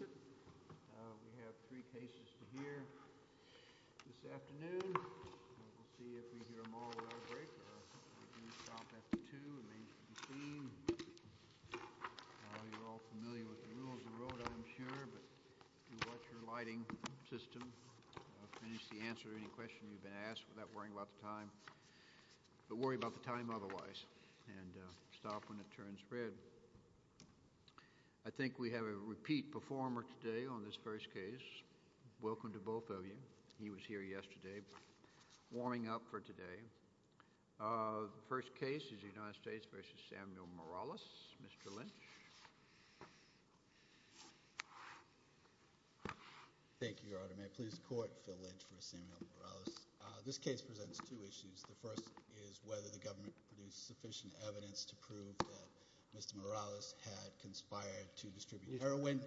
We have three cases to hear this afternoon. We'll see if we hear them all without a break, or if we stop after two, it may need to be seen. You're all familiar with the rules of the road, I'm sure, but do watch your lighting system. Finish the answer to any question you've been asked without worrying about the time. But worry about the time otherwise, and stop when it turns red. I think we have a repeat performer today on this first case. Welcome to both of you. He was here yesterday. Warming up for today. The first case is the United States v. Samuel Morales. Mr. Lynch. Thank you, Your Honor. May it please the Court, Phil Lynch v. Samuel Morales. This case presents two issues. The first is whether the government produced sufficient evidence to prove that Mr. Morales had conspired to distribute heroin.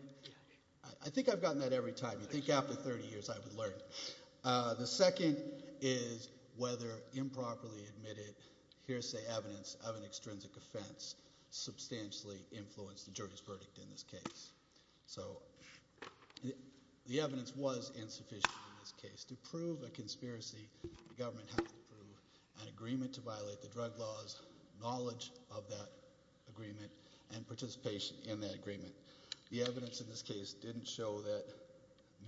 I think I've gotten that every time. You'd think after 30 years I would learn. The second is whether improperly admitted hearsay evidence of an extrinsic offense substantially influenced the jury's verdict in this case. So the evidence was insufficient in this case. To prove a conspiracy, the government had to prove an agreement to violate the drug laws, knowledge of that agreement, and participation in that agreement. The evidence in this case didn't show that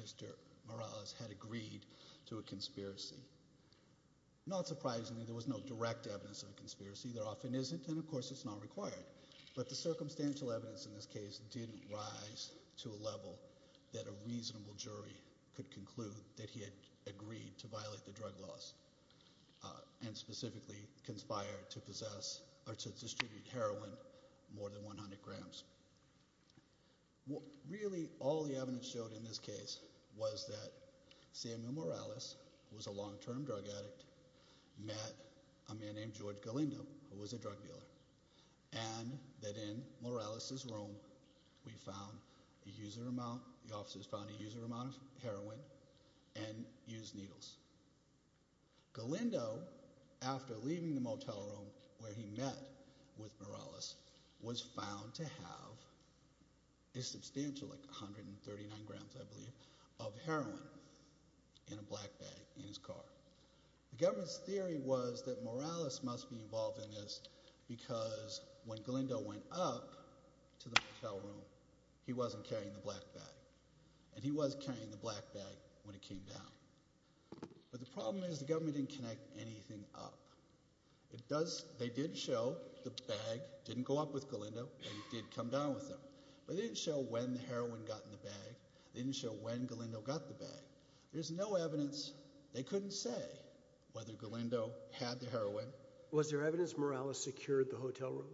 Mr. Morales had agreed to a conspiracy. Not surprisingly, there was no direct evidence of a conspiracy. There often isn't, and of course it's not required. But the circumstantial evidence in this case didn't rise to a level that a reasonable jury could conclude that he had agreed to violate the drug laws and specifically conspired to possess or to distribute heroin more than 100 grams. Really, all the evidence showed in this case was that Samuel Morales, who was a long-term drug addict, met a man named George Galindo, who was a drug dealer. And that in Morales' room we found a user amount – the officers found a user amount of heroin and used needles. Galindo, after leaving the motel room where he met with Morales, was found to have a substantial – like 139 grams, I believe – of heroin in a black bag in his car. The government's theory was that Morales must be involved in this because when Galindo went up to the motel room, he wasn't carrying the black bag. And he was carrying the black bag when he came down. But the problem is the government didn't connect anything up. It does – they did show the bag didn't go up with Galindo and it did come down with him. But they didn't show when the heroin got in the bag. They didn't show when Galindo got the bag. There's no evidence. They couldn't say whether Galindo had the heroin. Was there evidence Morales secured the hotel room?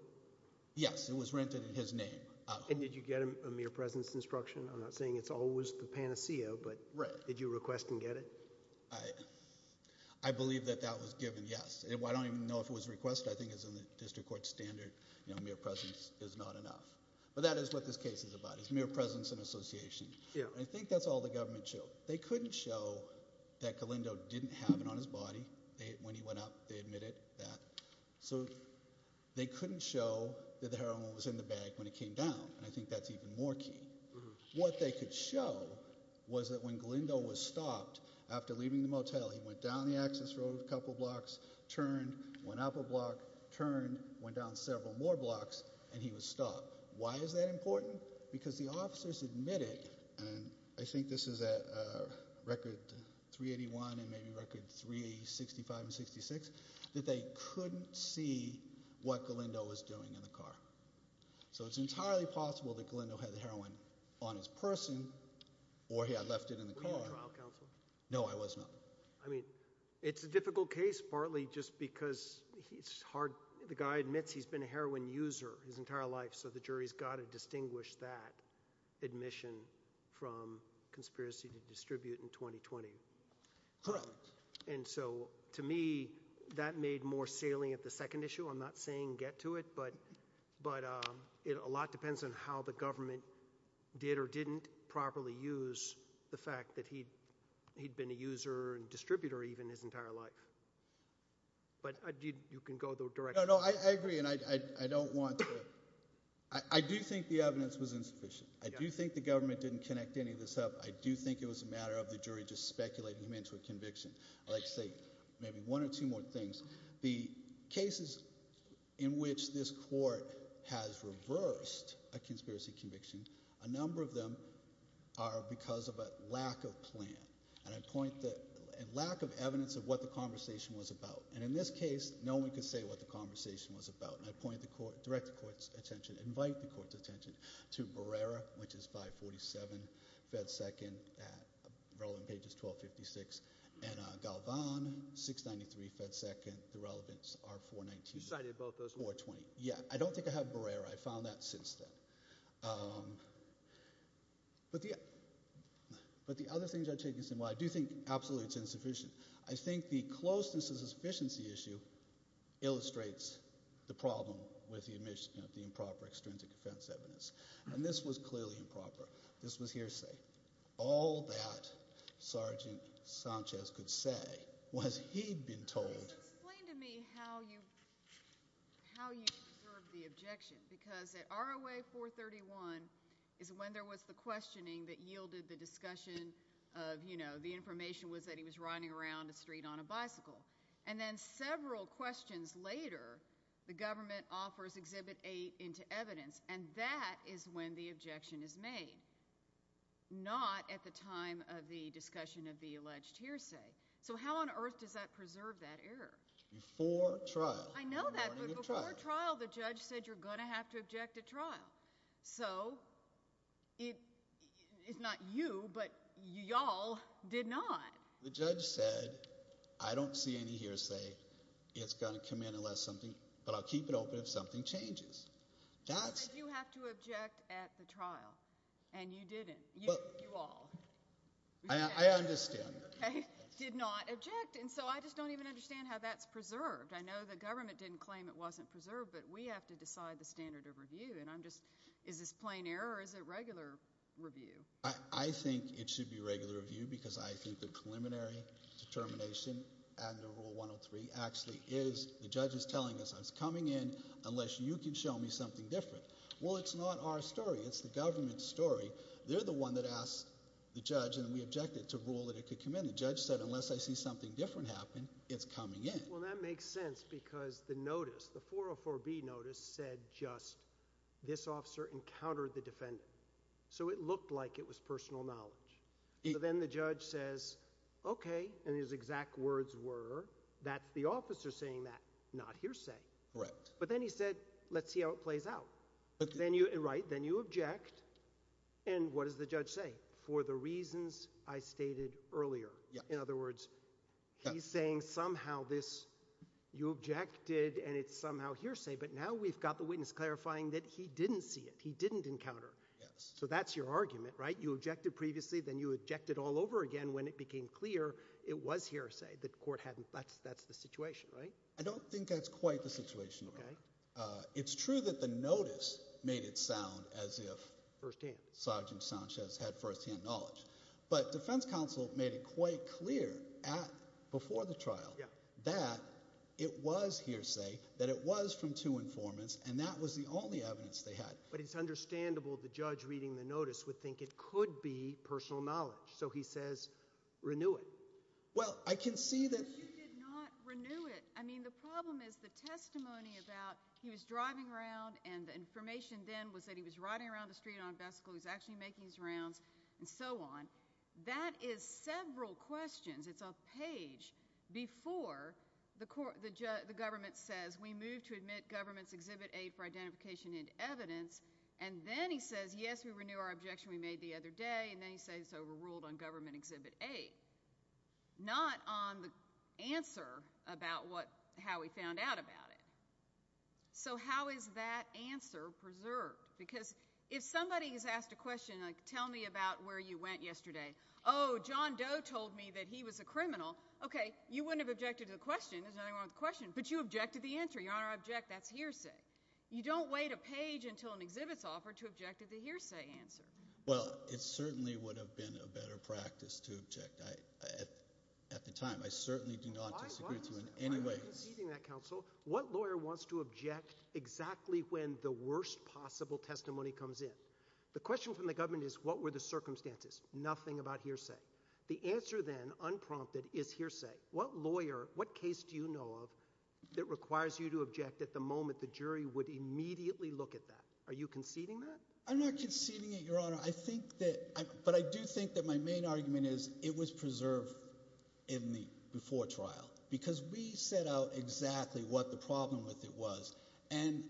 Yes. It was rented in his name. And did you get a mere presence instruction? I'm not saying it's always the panacea, but did you request and get it? I believe that that was given yes. I don't even know if it was requested. I think it's in the district court standard. Mere presence is not enough. But that is what this case is about. It's mere presence and association. I think that's all the government showed. They couldn't show that Galindo didn't have it on his body when he went up. They admitted that. So they couldn't show that the heroin was in the bag when he came down. And I think that's even more key. What they could show was that when Galindo was stopped after leaving the motel, he went down the access road a couple blocks, turned, went up a block, turned, Why is that important? Because the officers admitted, and I think this is at record 381 and maybe record 365 and 66, that they couldn't see what Galindo was doing in the car. So it's entirely possible that Galindo had the heroin on his person or he had left it in the car. Were you a trial counsel? No, I was not. I mean, it's a difficult case partly just because the guy admits he's been a heroin user his entire life, so the jury's got to distinguish that admission from conspiracy to distribute in 2020. Correct. And so to me, that made more salient the second issue. I'm not saying get to it, but a lot depends on how the government did or didn't properly use the fact that he'd been a user and distributor even his entire life. But you can go directly. No, I agree, and I don't want to. I do think the evidence was insufficient. I do think the government didn't connect any of this up. I do think it was a matter of the jury just speculating him into a conviction. I'd like to say maybe one or two more things. The cases in which this court has reversed a conspiracy conviction, a number of them are because of a lack of plan. And I point that lack of evidence of what the conversation was about. And in this case, no one could say what the conversation was about. And I direct the court's attention, invite the court's attention to Barrera, which is 547 Fed Second at relevant pages 1256, and Galvan, 693 Fed Second. The relevance are 419. You cited both those ones. 420. Yeah. I don't think I have Barrera. I found that since then. But the other things I'm taking is, well, I do think absolutely it's insufficient. I think the closeness is a sufficiency issue illustrates the problem with the improper extrinsic defense evidence. And this was clearly improper. This was hearsay. All that Sergeant Sanchez could say was he'd been told. Could you explain to me how you preserve the objection? Because at ROA 431 is when there was the questioning that yielded the discussion of, you know, the information was that he was riding around the street on a bicycle. And then several questions later, the government offers Exhibit 8 into evidence, and that is when the objection is made, not at the time of the discussion of the alleged hearsay. So how on earth does that preserve that error? Before trial. I know that. But before trial, the judge said you're going to have to object at trial. So it's not you, but y'all did not. The judge said I don't see any hearsay. It's going to come in unless something – but I'll keep it open if something changes. He said you have to object at the trial, and you didn't. You all. I understand. Okay. Did not object. And so I just don't even understand how that's preserved. I know the government didn't claim it wasn't preserved, but we have to decide the standard of review. And I'm just – is this plain error or is it regular review? I think it should be regular review because I think the preliminary determination under Rule 103 actually is the judge is telling us it's coming in unless you can show me something different. Well, it's not our story. It's the government's story. They're the one that asked the judge, and we objected to rule that it could come in. The judge said unless I see something different happen, it's coming in. Well, that makes sense because the notice, the 404B notice, said just this officer encountered the defendant. So it looked like it was personal knowledge. So then the judge says, okay, and his exact words were that's the officer saying that, not hearsay. Correct. But then he said let's see how it plays out. Right. Then you object, and what does the judge say? For the reasons I stated earlier. In other words, he's saying somehow this – you objected and it's somehow hearsay. But now we've got the witness clarifying that he didn't see it. He didn't encounter. So that's your argument, right? You objected previously. Then you objected all over again when it became clear it was hearsay, that court hadn't – that's the situation, right? I don't think that's quite the situation. It's true that the notice made it sound as if Sergeant Sanchez had firsthand knowledge. But defense counsel made it quite clear before the trial that it was hearsay, that it was from two informants, and that was the only evidence they had. But it's understandable the judge reading the notice would think it could be personal knowledge. So he says renew it. Well, I can see that – But you did not renew it. I mean, the problem is the testimony about he was driving around, and the information then was that he was riding around the street on a bicycle. He was actually making his rounds and so on. That is several questions. It's a page before the government says, we move to admit government's Exhibit A for identification and evidence, and then he says, yes, we renew our objection we made the other day, and then he says it's overruled on government Exhibit A. Not on the answer about how he found out about it. So how is that answer preserved? Because if somebody has asked a question like, tell me about where you went yesterday. Oh, John Doe told me that he was a criminal. Okay, you wouldn't have objected to the question. There's nothing wrong with the question. But you objected to the answer. Your Honor, I object. That's hearsay. You don't wait a page until an exhibit's offered to object to the hearsay answer. Well, it certainly would have been a better practice to object at the time. I certainly do not disagree with you in any way. I'm not conceding that, counsel. What lawyer wants to object exactly when the worst possible testimony comes in? The question from the government is, what were the circumstances? Nothing about hearsay. The answer then, unprompted, is hearsay. What lawyer, what case do you know of that requires you to object at the moment the jury would immediately look at that? Are you conceding that? I'm not conceding it, Your Honor. I think that – but I do think that my main argument is it was preserved in the before trial because we set out exactly what the problem with it was. And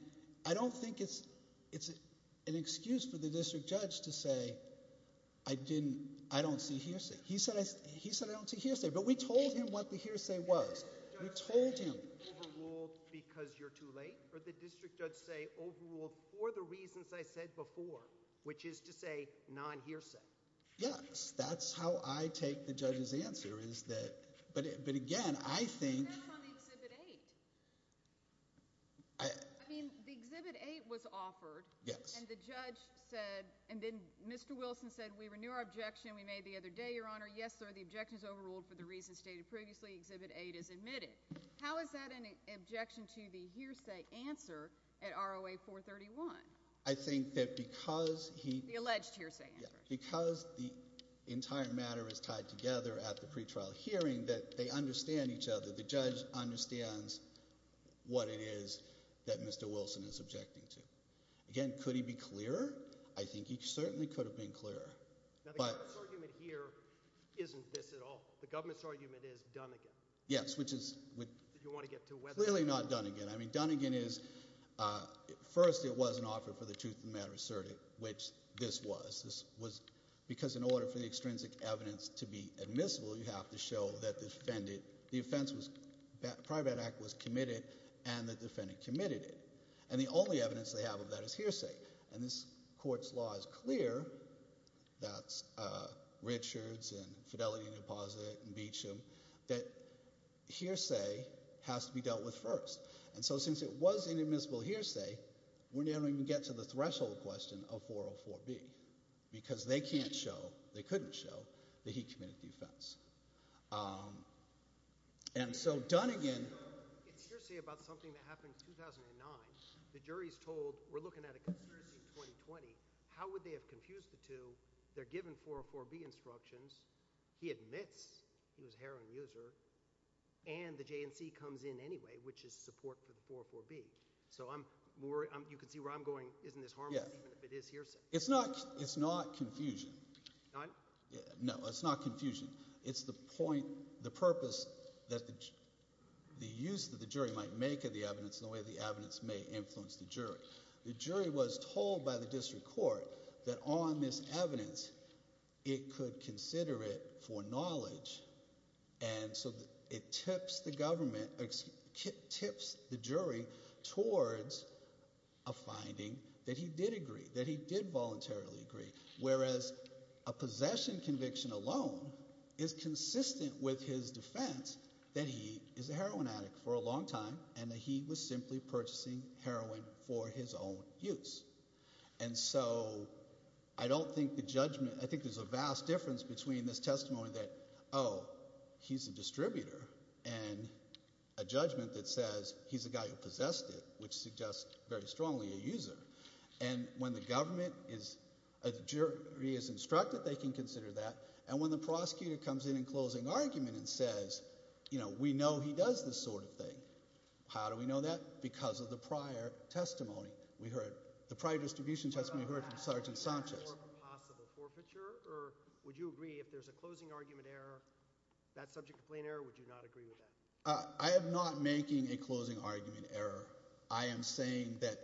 I don't think it's an excuse for the district judge to say I didn't – I don't see hearsay. He said I don't see hearsay. But we told him what the hearsay was. We told him. Does the district judge say overruled because you're too late? Or the district judge say overruled for the reasons I said before, which is to say non-hearsay? Yes. That's how I take the judge's answer is that – but again, I think – But that's on Exhibit 8. I mean the Exhibit 8 was offered. Yes. And the judge said – and then Mr. Wilson said we renew our objection we made the other day, Your Honor. Yes, sir. The objection is overruled for the reasons stated previously. Exhibit 8 is admitted. How is that an objection to the hearsay answer at ROA 431? I think that because he – The alleged hearsay answer. Because the entire matter is tied together at the pretrial hearing that they understand each other. The judge understands what it is that Mr. Wilson is objecting to. Again, could he be clearer? I think he certainly could have been clearer. Now the government's argument here isn't this at all. The government's argument is done again. Yes, which is clearly not done again. I mean done again is – first it wasn't offered for the truth of the matter asserted, which this was. This was because in order for the extrinsic evidence to be admissible, you have to show that the defendant – the offense was – prior to that act was committed and the defendant committed it. And the only evidence they have of that is hearsay. And this court's law is clear. That's Richards and Fidelity Deposit and Beecham. That hearsay has to be dealt with first. And so since it was inadmissible hearsay, we don't even get to the threshold question of 404B because they can't show – they couldn't show that he committed the offense. And so done again – It's hearsay about something that happened in 2009. The jury is told we're looking at a conspiracy in 2020. How would they have confused the two? They're given 404B instructions. He admits he was a heroin user. And the JNC comes in anyway, which is support for the 404B. So I'm – you can see where I'm going. Isn't this harmless even if it is hearsay? It's not confusion. No, it's not confusion. It's the point, the purpose that the use that the jury might make of the evidence and the way the evidence may influence the jury. The jury was told by the district court that on this evidence it could consider it for knowledge. And so it tips the government – tips the jury towards a finding that he did agree, that he did voluntarily agree. Whereas a possession conviction alone is consistent with his defense that he is a heroin addict for a long time and that he was simply purchasing heroin for his own use. And so I don't think the judgment – I think there's a vast difference between this testimony that, oh, he's a distributor and a judgment that says he's a guy who possessed it, which suggests very strongly a user. And when the government is – a jury is instructed, they can consider that. And when the prosecutor comes in in closing argument and says, you know, we know he does this sort of thing. How do we know that? Because of the prior testimony we heard. The prior distribution testimony we heard from Sergeant Sanchez. Would you agree if there's a closing argument error, that subject complaint error, would you not agree with that? I am not making a closing argument error. I am saying that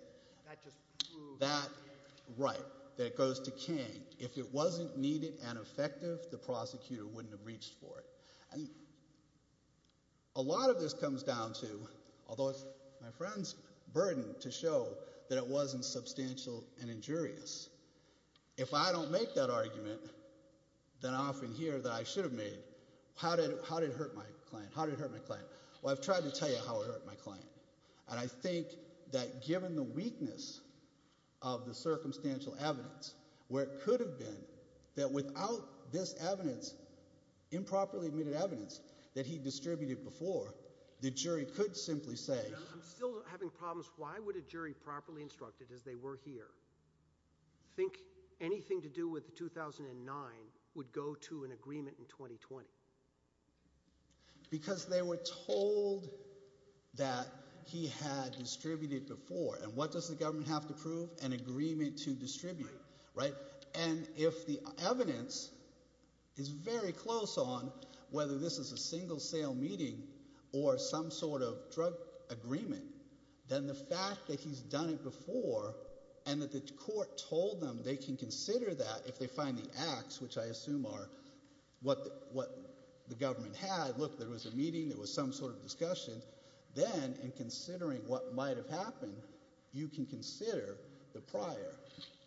that – right, that it goes to King. If it wasn't needed and effective, the prosecutor wouldn't have reached for it. And a lot of this comes down to – although it's my friend's burden to show that it wasn't substantial and injurious. If I don't make that argument, then I often hear that I should have made. How did it hurt my client? How did it hurt my client? Well, I've tried to tell you how it hurt my client. And I think that given the weakness of the circumstantial evidence, where it could have been, that without this evidence, improperly admitted evidence that he distributed before, the jury could simply say – I'm still having problems. Why would a jury properly instructed, as they were here, think anything to do with the 2009 would go to an agreement in 2020? Because they were told that he had distributed before. And what does the government have to prove? An agreement to distribute. And if the evidence is very close on, whether this is a single sale meeting or some sort of drug agreement, then the fact that he's done it before and that the court told them they can consider that if they find the acts, which I assume are what the government had – look, there was a meeting, there was some sort of discussion – then in considering what might have happened, you can consider the prior.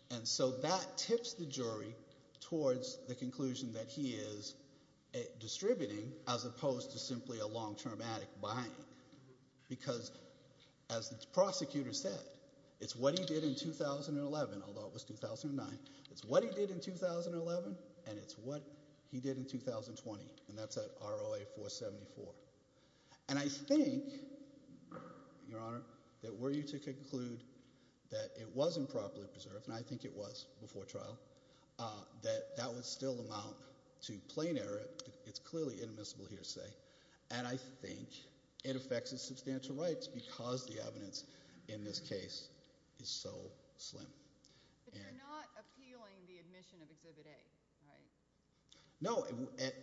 And so that tips the jury towards the conclusion that he is distributing as opposed to simply a long-term addict buying. Because as the prosecutor said, it's what he did in 2011, although it was 2009. It's what he did in 2011, and it's what he did in 2020, and that's at ROA 474. And I think, Your Honor, that were you to conclude that it wasn't properly preserved – and I think it was before trial – that that would still amount to plain error. It's clearly inadmissible here to say. And I think it affects his substantial rights because the evidence in this case is so slim. But you're not appealing the admission of Exhibit A, right? No.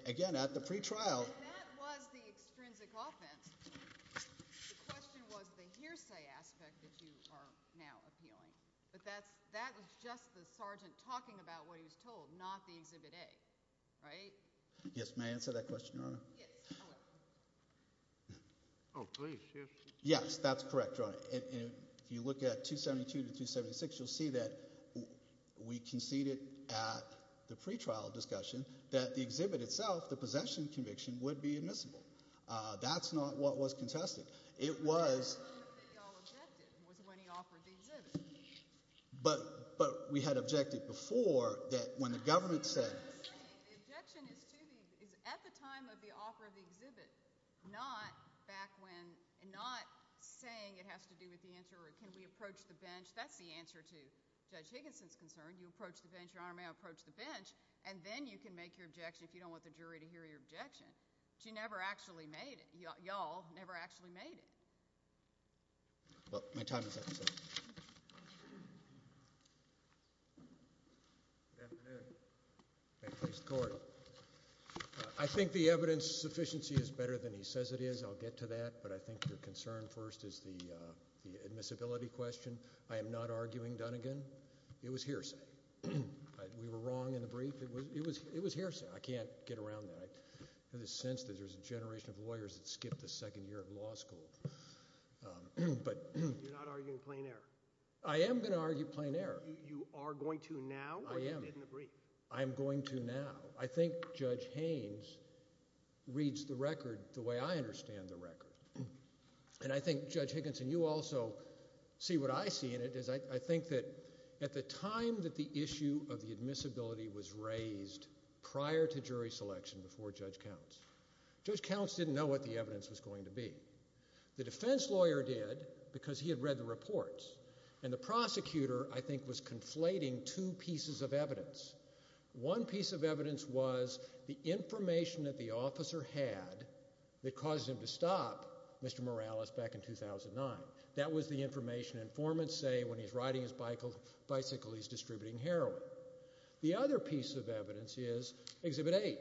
Again, at the pretrial – And that was the extrinsic offense. The question was the hearsay aspect that you are now appealing. But that was just the sergeant talking about what he was told, not the Exhibit A, right? Yes. May I answer that question, Your Honor? Yes. Go ahead. Oh, please. Yes. Yes, that's correct, Your Honor. And if you look at 272 to 276, you'll see that we conceded at the pretrial discussion that the exhibit itself, the possession conviction, would be admissible. That's not what was contested. It was – The only time that they all objected was when he offered the exhibit. But we had objected before that when the government said – The objection is at the time of the offer of the exhibit, not back when – and not saying it has to do with the answer or can we approach the bench. That's the answer to Judge Higginson's concern. You approach the bench, Your Honor, may I approach the bench, and then you can make your objection if you don't want the jury to hear your objection. But you never actually made it. Y'all never actually made it. Well, my time is up, so – Good afternoon. May it please the Court. I think the evidence sufficiency is better than he says it is. I'll get to that, but I think your concern first is the admissibility question. I am not arguing Dunnegan. It was hearsay. We were wrong in the brief. It was hearsay. I can't get around that. There's a sense that there's a generation of lawyers that skipped the second year of law school. You're not arguing plain error? I am going to argue plain error. You are going to now or you didn't agree? I am going to now. I think Judge Haynes reads the record the way I understand the record. And I think, Judge Higginson, you also see what I see in it. I think that at the time that the issue of the admissibility was raised prior to jury selection before Judge Counts, Judge Counts didn't know what the evidence was going to be. The defense lawyer did because he had read the reports, and the prosecutor, I think, was conflating two pieces of evidence. One piece of evidence was the information that the officer had that caused him to stop Mr. Morales back in 2009. That was the information. Informants say when he's riding his bicycle, he's distributing heroin. The other piece of evidence is Exhibit 8.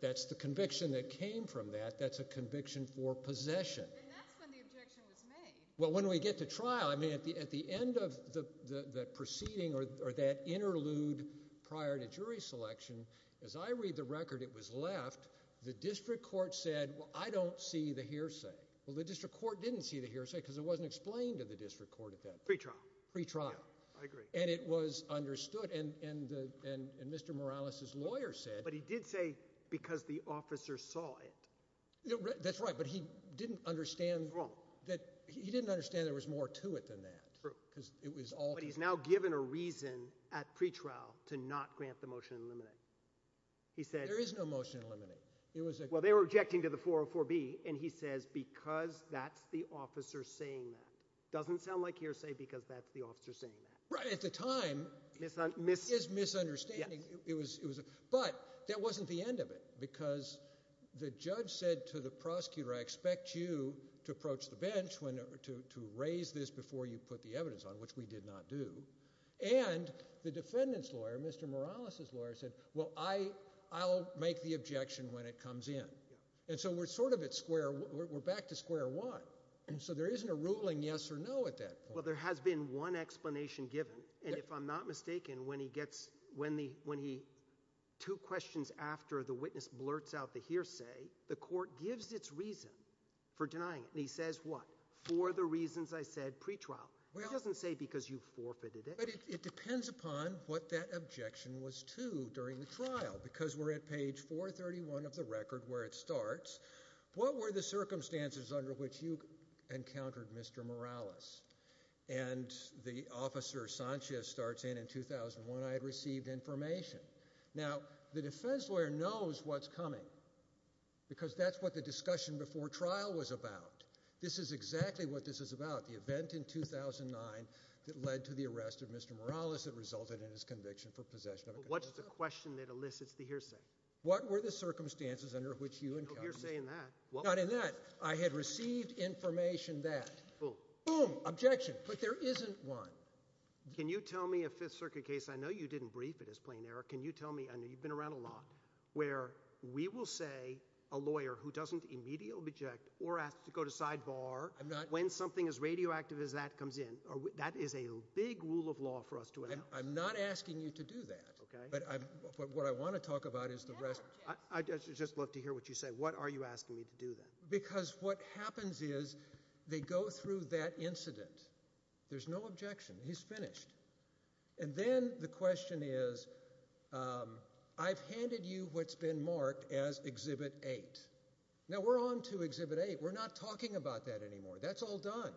That's the conviction that came from that. That's a conviction for possession. And that's when the objection was made. Well, when we get to trial, I mean, at the end of the proceeding or that interlude prior to jury selection, as I read the record it was left, the district court said, well, I don't see the hearsay. Well, the district court didn't see the hearsay because it wasn't explained to the district court at that point. Pre-trial. Pre-trial. I agree. And it was understood. And Mr. Morales's lawyer said – But he did say because the officer saw it. That's right, but he didn't understand – He didn't understand there was more to it than that. True. Because it was altered. But he's now given a reason at pre-trial to not grant the motion to eliminate. He said – There is no motion to eliminate. It was a – Well, they were objecting to the 404B, and he says because that's the officer saying that. It doesn't sound like hearsay because that's the officer saying that. Right. At the time – Misunderstanding. It is misunderstanding. Yes. But that wasn't the end of it because the judge said to the prosecutor, I expect you to approach the bench to raise this before you put the evidence on, which we did not do. And the defendant's lawyer, Mr. Morales's lawyer, said, well, I'll make the objection when it comes in. And so we're sort of at square – we're back to square one. And so there isn't a ruling yes or no at that point. Well, there has been one explanation given. And if I'm not mistaken, when he gets – when he – two questions after the witness blurts out the hearsay, the court gives its reason for denying it. And he says what? For the reasons I said pre-trial. It doesn't say because you forfeited it. But it depends upon what that objection was to during the trial because we're at page 431 of the record where it starts. What were the circumstances under which you encountered Mr. Morales? And the officer, Sanchez, starts in, in 2001 I had received information. Now, the defense lawyer knows what's coming because that's what the discussion before trial was about. This is exactly what this is about. The event in 2009 that led to the arrest of Mr. Morales that resulted in his conviction for possession of a gun. But what's the question that elicits the hearsay? What were the circumstances under which you encountered him? You're saying that. Not in that. I had received information that. Boom, objection. But there isn't one. Can you tell me a Fifth Circuit case – I know you didn't brief it as plain error. Can you tell me – I know you've been around a lot – where we will say a lawyer who doesn't immediately object or ask to go to sidebar when something as radioactive as that comes in. That is a big rule of law for us to have. I'm not asking you to do that. Okay. But what I want to talk about is the rest. I'd just love to hear what you say. What are you asking me to do then? Because what happens is they go through that incident. There's no objection. He's finished. And then the question is, I've handed you what's been marked as Exhibit 8. Now, we're on to Exhibit 8. We're not talking about that anymore. That's all done.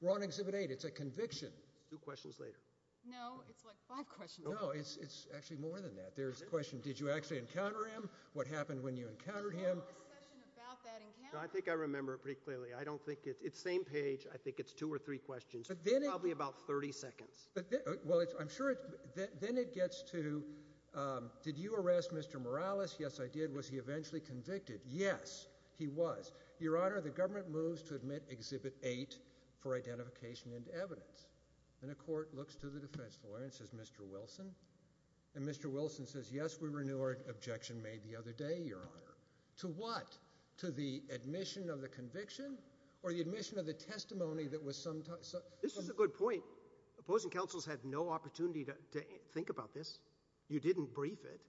We're on Exhibit 8. It's a conviction. Two questions later. No, it's like five questions. No, it's actually more than that. There's a question, did you actually encounter him? What happened when you encountered him? I think I remember pretty clearly. I don't think – it's the same page. I think it's two or three questions. Probably about 30 seconds. Well, I'm sure – then it gets to, did you arrest Mr. Morales? Yes, I did. Was he eventually convicted? Yes, he was. Your Honor, the government moves to admit Exhibit 8 for identification and evidence. And a court looks to the defense lawyer and says, Mr. Wilson? And Mr. Wilson says, yes, we renew our objection made the other day, Your Honor. To what? To the admission of the conviction? Or the admission of the testimony that was sometimes – This is a good point. Opposing counsels had no opportunity to think about this. You didn't brief it.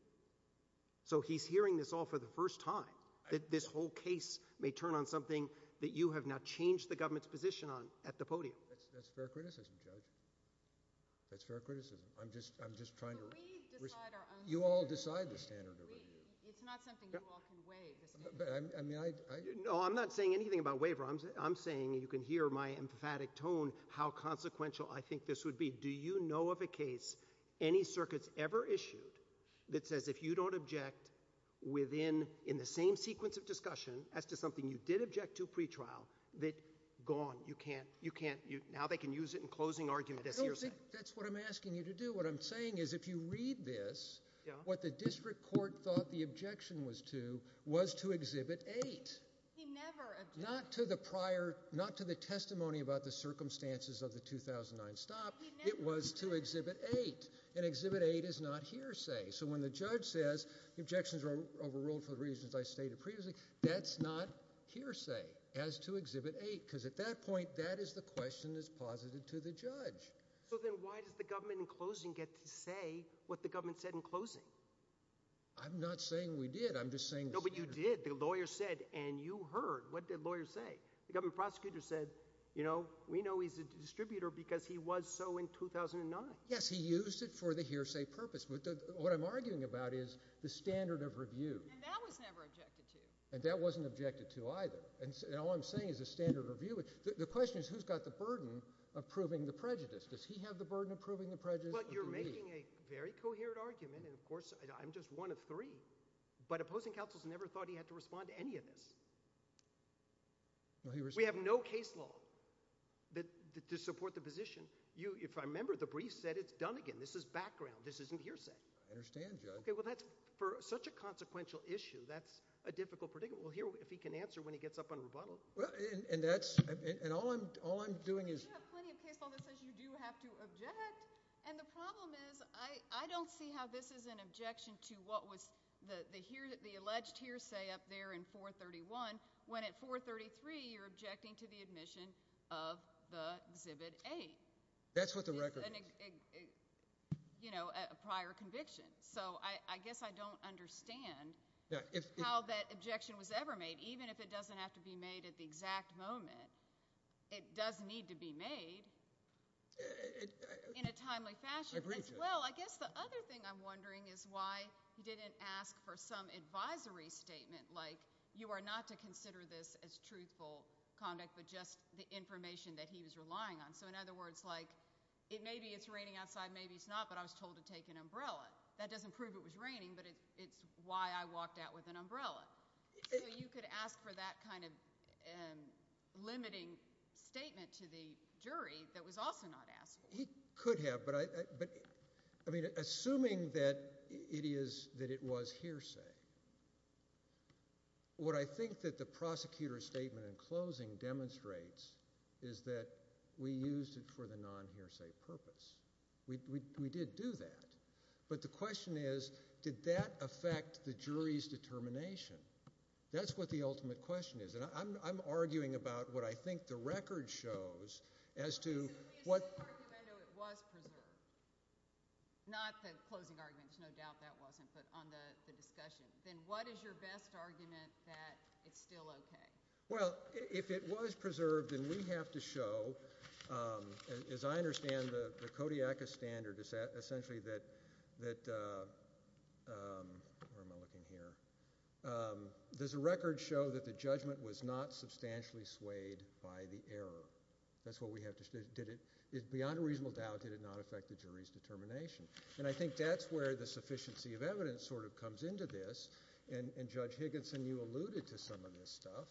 So he's hearing this all for the first time, that this whole case may turn on something that you have now changed the government's position on at the podium. That's fair criticism, Judge. That's fair criticism. I'm just trying to – But we decide our own standards. You all decide the standard of review. It's not something you all can waive. I mean, I – No, I'm not saying anything about waiver. I'm saying – you can hear my emphatic tone how consequential I think this would be. Do you know of a case, any circuits ever issued, that says if you don't object within – in the same sequence of discussion as to something you did object to pretrial, that gone. You can't – now they can use it in closing argument as hearsay. That's what I'm asking you to do. What I'm saying is if you read this, what the district court thought the objection was to was to Exhibit 8. He never objected. Not to the prior – not to the testimony about the circumstances of the 2009 stop. It was to Exhibit 8. And Exhibit 8 is not hearsay. So when the judge says the objections were overruled for the reasons I stated previously, that's not hearsay as to Exhibit 8. Because at that point, that is the question that's posited to the judge. So then why does the government in closing get to say what the government said in closing? I'm not saying we did. I'm just saying – No, but you did. The lawyer said, and you heard. What did the lawyer say? The government prosecutor said, you know, we know he's a distributor because he was so in 2009. Yes, he used it for the hearsay purpose. What I'm arguing about is the standard of review. And that was never objected to. And that wasn't objected to either. And all I'm saying is the standard of review. The question is who's got the burden of proving the prejudice? Does he have the burden of proving the prejudice? Well, you're making a very coherent argument, and, of course, I'm just one of three. But opposing counsels never thought he had to respond to any of this. We have no case law to support the position. If I remember, the brief said it's done again. This is background. This isn't hearsay. I understand, Judge. Okay, well, that's – for such a consequential issue, that's a difficult predicament. We'll hear if he can answer when he gets up on rebuttal. And that's – and all I'm doing is – You have plenty of case law that says you do have to object. And the problem is I don't see how this is an objection to what was the alleged hearsay up there in 431 when at 433 you're objecting to the admission of the Exhibit A. That's what the record is. You know, a prior conviction. So I guess I don't understand how that objection was ever made. Even if it doesn't have to be made at the exact moment, it does need to be made in a timely fashion. I agree with you. Well, I guess the other thing I'm wondering is why he didn't ask for some advisory statement, like you are not to consider this as truthful conduct but just the information that he was relying on. So in other words, like maybe it's raining outside, maybe it's not, but I was told to take an umbrella. That doesn't prove it was raining, but it's why I walked out with an umbrella. So you could ask for that kind of limiting statement to the jury that was also not askable. He could have, but I mean assuming that it is – that it was hearsay, what I think that the prosecutor's statement in closing demonstrates is that we used it for the non-hearsay purpose. We did do that. But the question is did that affect the jury's determination? That's what the ultimate question is, and I'm arguing about what I think the record shows as to what – but on the discussion, then what is your best argument that it's still okay? Well, if it was preserved, then we have to show, as I understand the Kodiakus standard, essentially that – where am I looking here? Does the record show that the judgment was not substantially swayed by the error? That's what we have to – did it – beyond a reasonable doubt, did it not affect the jury's determination? And I think that's where the sufficiency of evidence sort of comes into this, and Judge Higginson, you alluded to some of this stuff,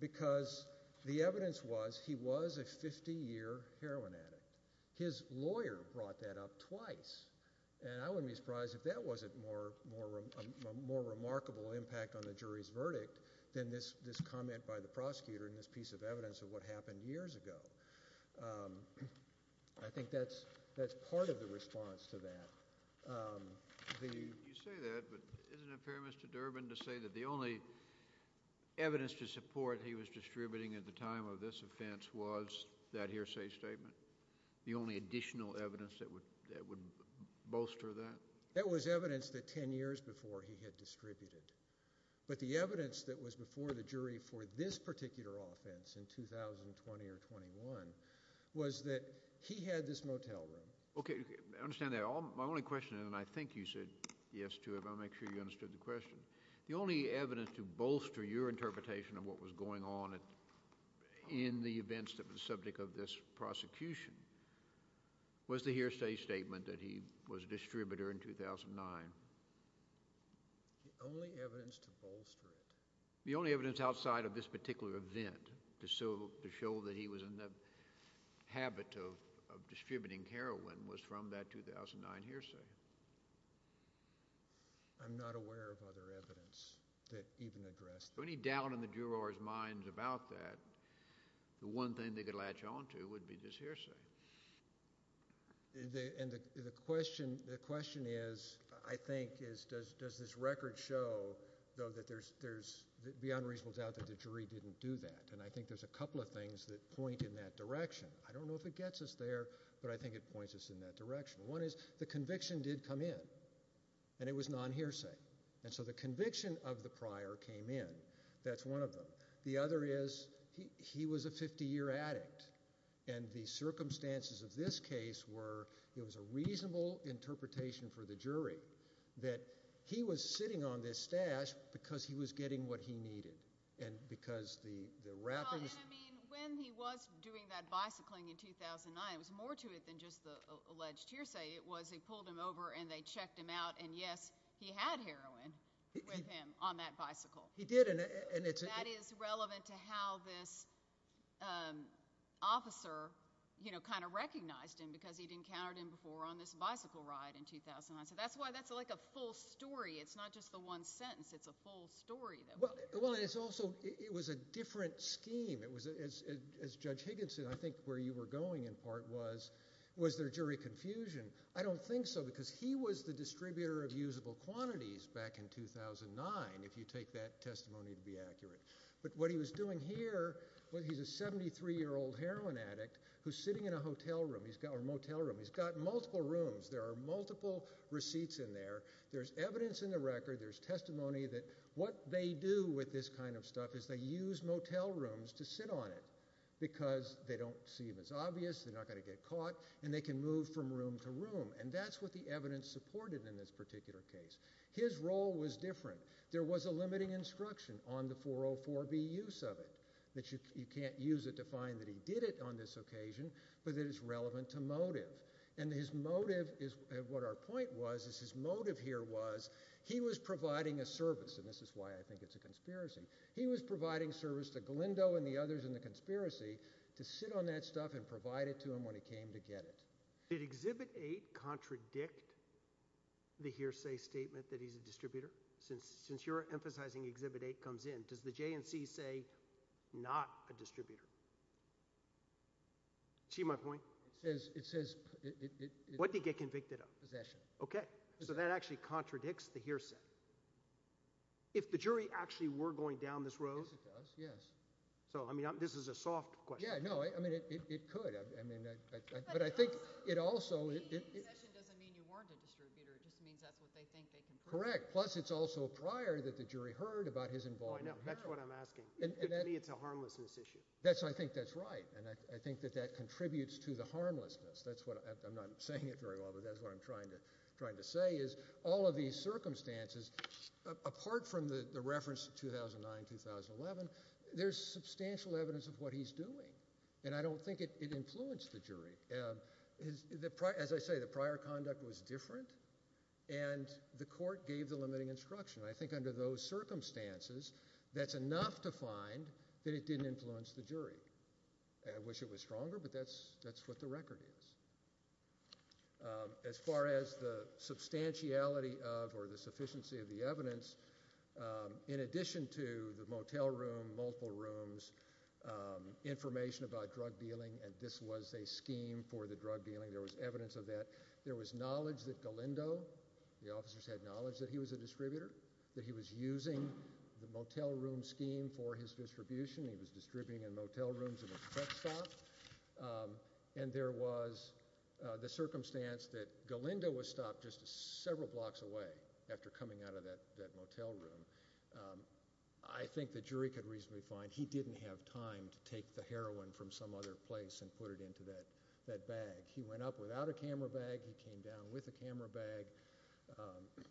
because the evidence was he was a 50-year heroin addict. His lawyer brought that up twice, and I wouldn't be surprised if that wasn't a more remarkable impact on the jury's verdict than this comment by the prosecutor in this piece of evidence of what happened years ago. I think that's part of the response to that. You say that, but isn't it fair, Mr. Durbin, to say that the only evidence to support he was distributing at the time of this offense was that hearsay statement, the only additional evidence that would bolster that? That was evidence that 10 years before he had distributed, but the evidence that was before the jury for this particular offense in 2020 or 21 was that he had this motel room. Okay, I understand that. My only question, and I think you said yes to it, but I want to make sure you understood the question. The only evidence to bolster your interpretation of what was going on in the events that were the subject of this prosecution was the hearsay statement that he was a distributor in 2009. The only evidence to bolster it? The only evidence outside of this particular event to show that he was in the habit of distributing heroin was from that 2009 hearsay. I'm not aware of other evidence that even addressed that. So any doubt in the jurors' minds about that, the one thing they could latch onto would be this hearsay. And the question is, I think, does this record show, though, that there's beyond reasonable doubt that the jury didn't do that? And I think there's a couple of things that point in that direction. I don't know if it gets us there, but I think it points us in that direction. One is the conviction did come in, and it was non-hearsay. And so the conviction of the prior came in. That's one of them. The other is he was a 50-year addict, and the circumstances of this case were it was a reasonable interpretation for the jury that he was sitting on this stash because he was getting what he needed. And because the wrappers— Well, and, I mean, when he was doing that bicycling in 2009, it was more to it than just the alleged hearsay. It was he pulled him over, and they checked him out, and, yes, he had heroin with him on that bicycle. He did, and it's— And that is relevant to how this officer kind of recognized him because he'd encountered him before on this bicycle ride in 2009. So that's why that's like a full story. It's not just the one sentence. It's a full story. Well, and it's also—it was a different scheme. As Judge Higginson, I think where you were going in part was, was there jury confusion? I don't think so because he was the distributor of usable quantities back in 2009, if you take that testimony to be accurate. But what he was doing here, well, he's a 73-year-old heroin addict who's sitting in a motel room. He's got multiple rooms. There are multiple receipts in there. There's evidence in the record. There's testimony that what they do with this kind of stuff is they use motel rooms to sit on it because they don't see it as obvious, they're not going to get caught, and they can move from room to room. And that's what the evidence supported in this particular case. His role was different. There was a limiting instruction on the 404B use of it, that you can't use it to find that he did it on this occasion, but that it's relevant to motive. And his motive is—what our point was is his motive here was he was providing a service, and this is why I think it's a conspiracy. He was providing service to Galindo and the others in the conspiracy to sit on that stuff and provide it to him when he came to get it. Did Exhibit 8 contradict the hearsay statement that he's a distributor? Since you're emphasizing Exhibit 8 comes in, does the J&C say not a distributor? See my point? It says— What did he get convicted of? Possession. Okay, so that actually contradicts the hearsay. If the jury actually were going down this road— Yes, it does, yes. So, I mean, this is a soft question. Yeah, no, I mean it could. But I think it also— Possession doesn't mean you weren't a distributor. It just means that's what they think they can prove. Correct. Plus it's also prior that the jury heard about his involvement. Oh, I know. That's what I'm asking. To me it's a harmlessness issue. I think that's right, and I think that that contributes to the harmlessness. That's what—I'm not saying it very well, but that's what I'm trying to say, is all of these circumstances, apart from the reference 2009-2011, there's substantial evidence of what he's doing, and I don't think it influenced the jury. As I say, the prior conduct was different, and the court gave the limiting instruction. I think under those circumstances, that's enough to find that it didn't influence the jury. I wish it was stronger, but that's what the record is. As far as the substantiality of or the sufficiency of the evidence, in addition to the motel room, multiple rooms, information about drug dealing, and this was a scheme for the drug dealing, there was evidence of that. There was knowledge that Galindo—the officers had knowledge that he was a distributor, that he was using the motel room scheme for his distribution. He was distributing in motel rooms in a truck stop. And there was the circumstance that Galindo was stopped just several blocks away after coming out of that motel room. I think the jury could reasonably find he didn't have time to take the heroin from some other place and put it into that bag. He went up without a camera bag. He came down with a camera bag.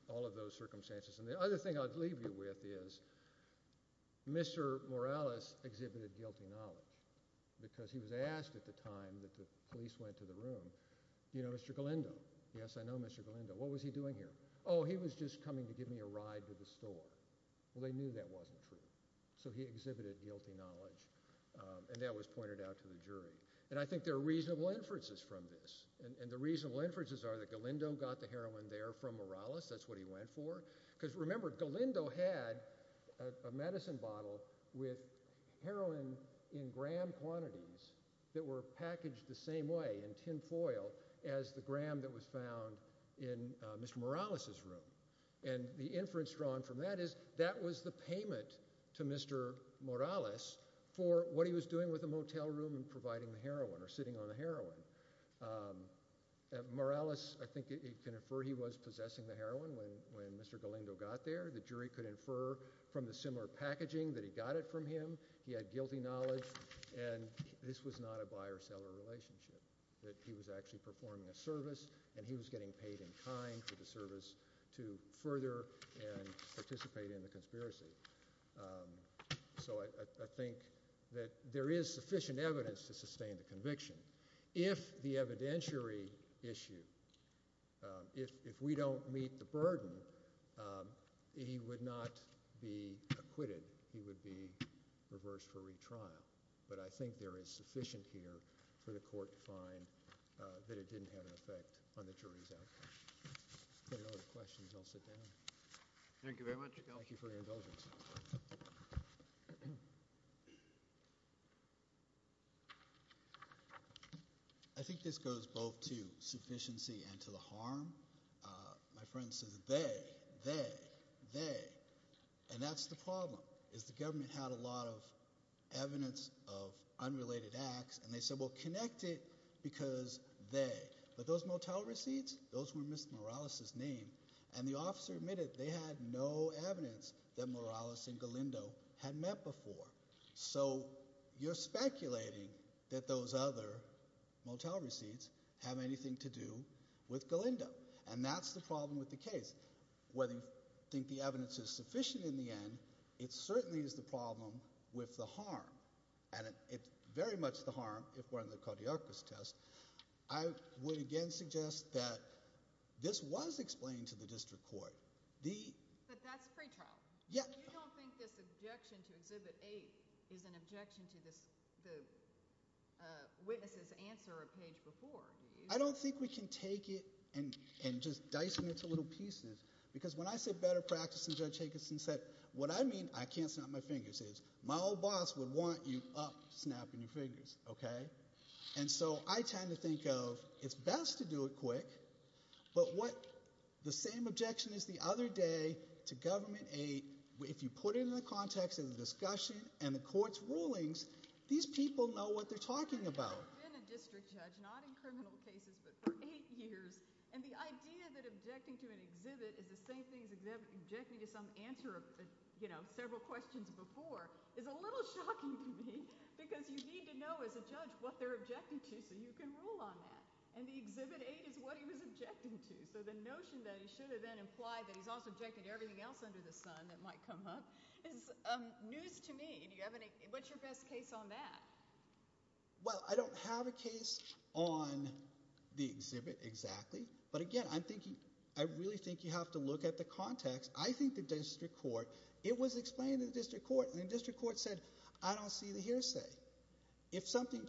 All of those circumstances. And the other thing I'd leave you with is Mr. Morales exhibited guilty knowledge because he was asked at the time that the police went to the room, you know, Mr. Galindo? Yes, I know Mr. Galindo. What was he doing here? Oh, he was just coming to give me a ride to the store. Well, they knew that wasn't true. So he exhibited guilty knowledge, and that was pointed out to the jury. And I think there are reasonable inferences from this, and the reasonable inferences are that Galindo got the heroin there from Morales. That's what he went for. Because remember, Galindo had a medicine bottle with heroin in gram quantities that were packaged the same way, in tin foil, as the gram that was found in Mr. Morales' room. And the inference drawn from that is that was the payment to Mr. Morales for what he was doing with the motel room and providing the heroin or sitting on the heroin. Morales, I think you can infer he was possessing the heroin when Mr. Galindo got there. The jury could infer from the similar packaging that he got it from him. He had guilty knowledge, and this was not a buyer-seller relationship, that he was actually performing a service, and he was getting paid in kind for the service to further and participate in the conspiracy. So I think that there is sufficient evidence to sustain the conviction. If the evidentiary issue, if we don't meet the burden, he would not be acquitted. He would be reversed for retrial. But I think there is sufficient here for the court to find that it didn't have an effect on the jury's outcome. If there are no other questions, I'll sit down. Thank you very much. Thank you for your indulgence. I think this goes both to sufficiency and to the harm. My friend says they, they, they. And that's the problem is the government had a lot of evidence of unrelated acts, and they said, well, connect it because they. But those motel receipts, those were Mr. Morales' name, and the officer admitted they had no evidence that Morales and Galindo had met before. So you're speculating that those other motel receipts have anything to do with Galindo. And that's the problem with the case. Whether you think the evidence is sufficient in the end, it certainly is the problem with the harm. And it's very much the harm if we're in the cardiac arrest test. I would again suggest that this was explained to the district court. But that's pretrial. You don't think this objection to Exhibit 8 is an objection to the witness's answer a page before, do you? I don't think we can take it and just dice it into little pieces. Because when I said better practice, and Judge Jacobson said, what I mean, I can't snap my fingers, is my old boss would want you up snapping your fingers. And so I tend to think of it's best to do it quick. But the same objection as the other day to Government 8, if you put it in the context of the discussion and the court's rulings, these people know what they're talking about. I've been a district judge, not in criminal cases, but for eight years. And the idea that objecting to an exhibit is the same thing as objecting to some answer, you know, several questions before, is a little shocking to me. Because you need to know as a judge what they're objecting to so you can rule on that. And the Exhibit 8 is what he was objecting to. So the notion that he should have then implied that he's also objected to everything else under the sun that might come up is news to me. What's your best case on that? Well, I don't have a case on the exhibit exactly. But, again, I really think you have to look at the context. I think the district court, it was explained to the district court, and the district court said, I don't see the hearsay. But he said the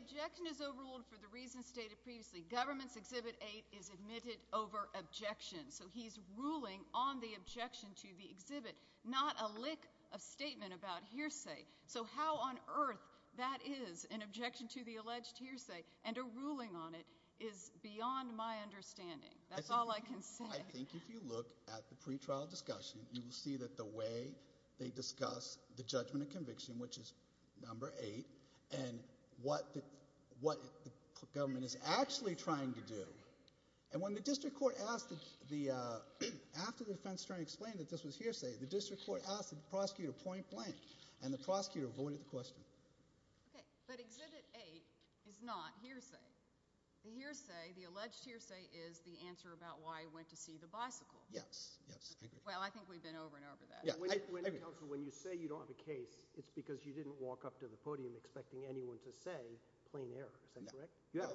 objection is overruled for the reasons stated previously. Government's Exhibit 8 is admitted over objection. So he's ruling on the objection to the exhibit, not a lick of statement about hearsay. So how on earth that is, an objection to the alleged hearsay, and a ruling on it, is beyond my understanding. That's all I can say. I think if you look at the pretrial discussion, you will see that the way they discuss the judgment of conviction, which is number eight, and what the government is actually trying to do. And when the district court asked, after the defense attorney explained that this was hearsay, the district court asked the prosecutor point blank, and the prosecutor avoided the question. Okay, but Exhibit 8 is not hearsay. The hearsay, the alleged hearsay, is the answer about why I went to see the bicycle. Yes, yes, I agree. Well, I think we've been over and over that. When you say you don't have a case, it's because you didn't walk up to the podium expecting anyone to say plain error. Is that correct? No,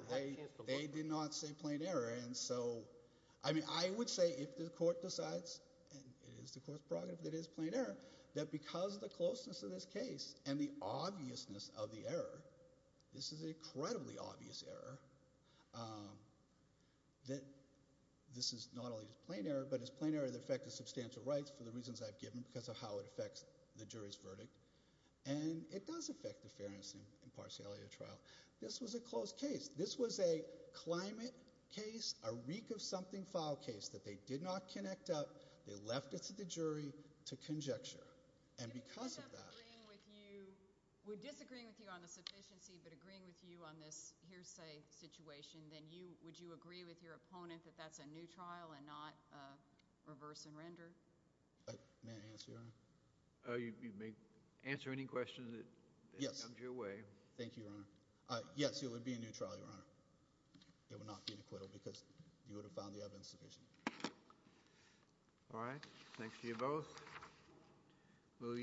they did not say plain error. And so, I mean, I would say if the court decides, and it is the court's prerogative that it is plain error, that because of the closeness of this case and the obviousness of the error, this is an incredibly obvious error, that this is not only plain error, but it's plain error that affected substantial rights for the reasons I've given because of how it affects the jury's verdict. And it does affect the fairness and impartiality of the trial. This was a closed case. This was a climate case, a reek-of-something-file case that they did not connect up, they left it to the jury to conjecture. And because of that— If we end up agreeing with you, we're disagreeing with you on the sufficiency, but agreeing with you on this hearsay situation, then would you agree with your opponent that that's a new trial and not reverse and render? May I answer, Your Honor? You may answer any questions that come your way. Yes. Yes, it would be a new trial, Your Honor. It would not be an acquittal because you would have found the evidence sufficient. All right. Thanks to you both.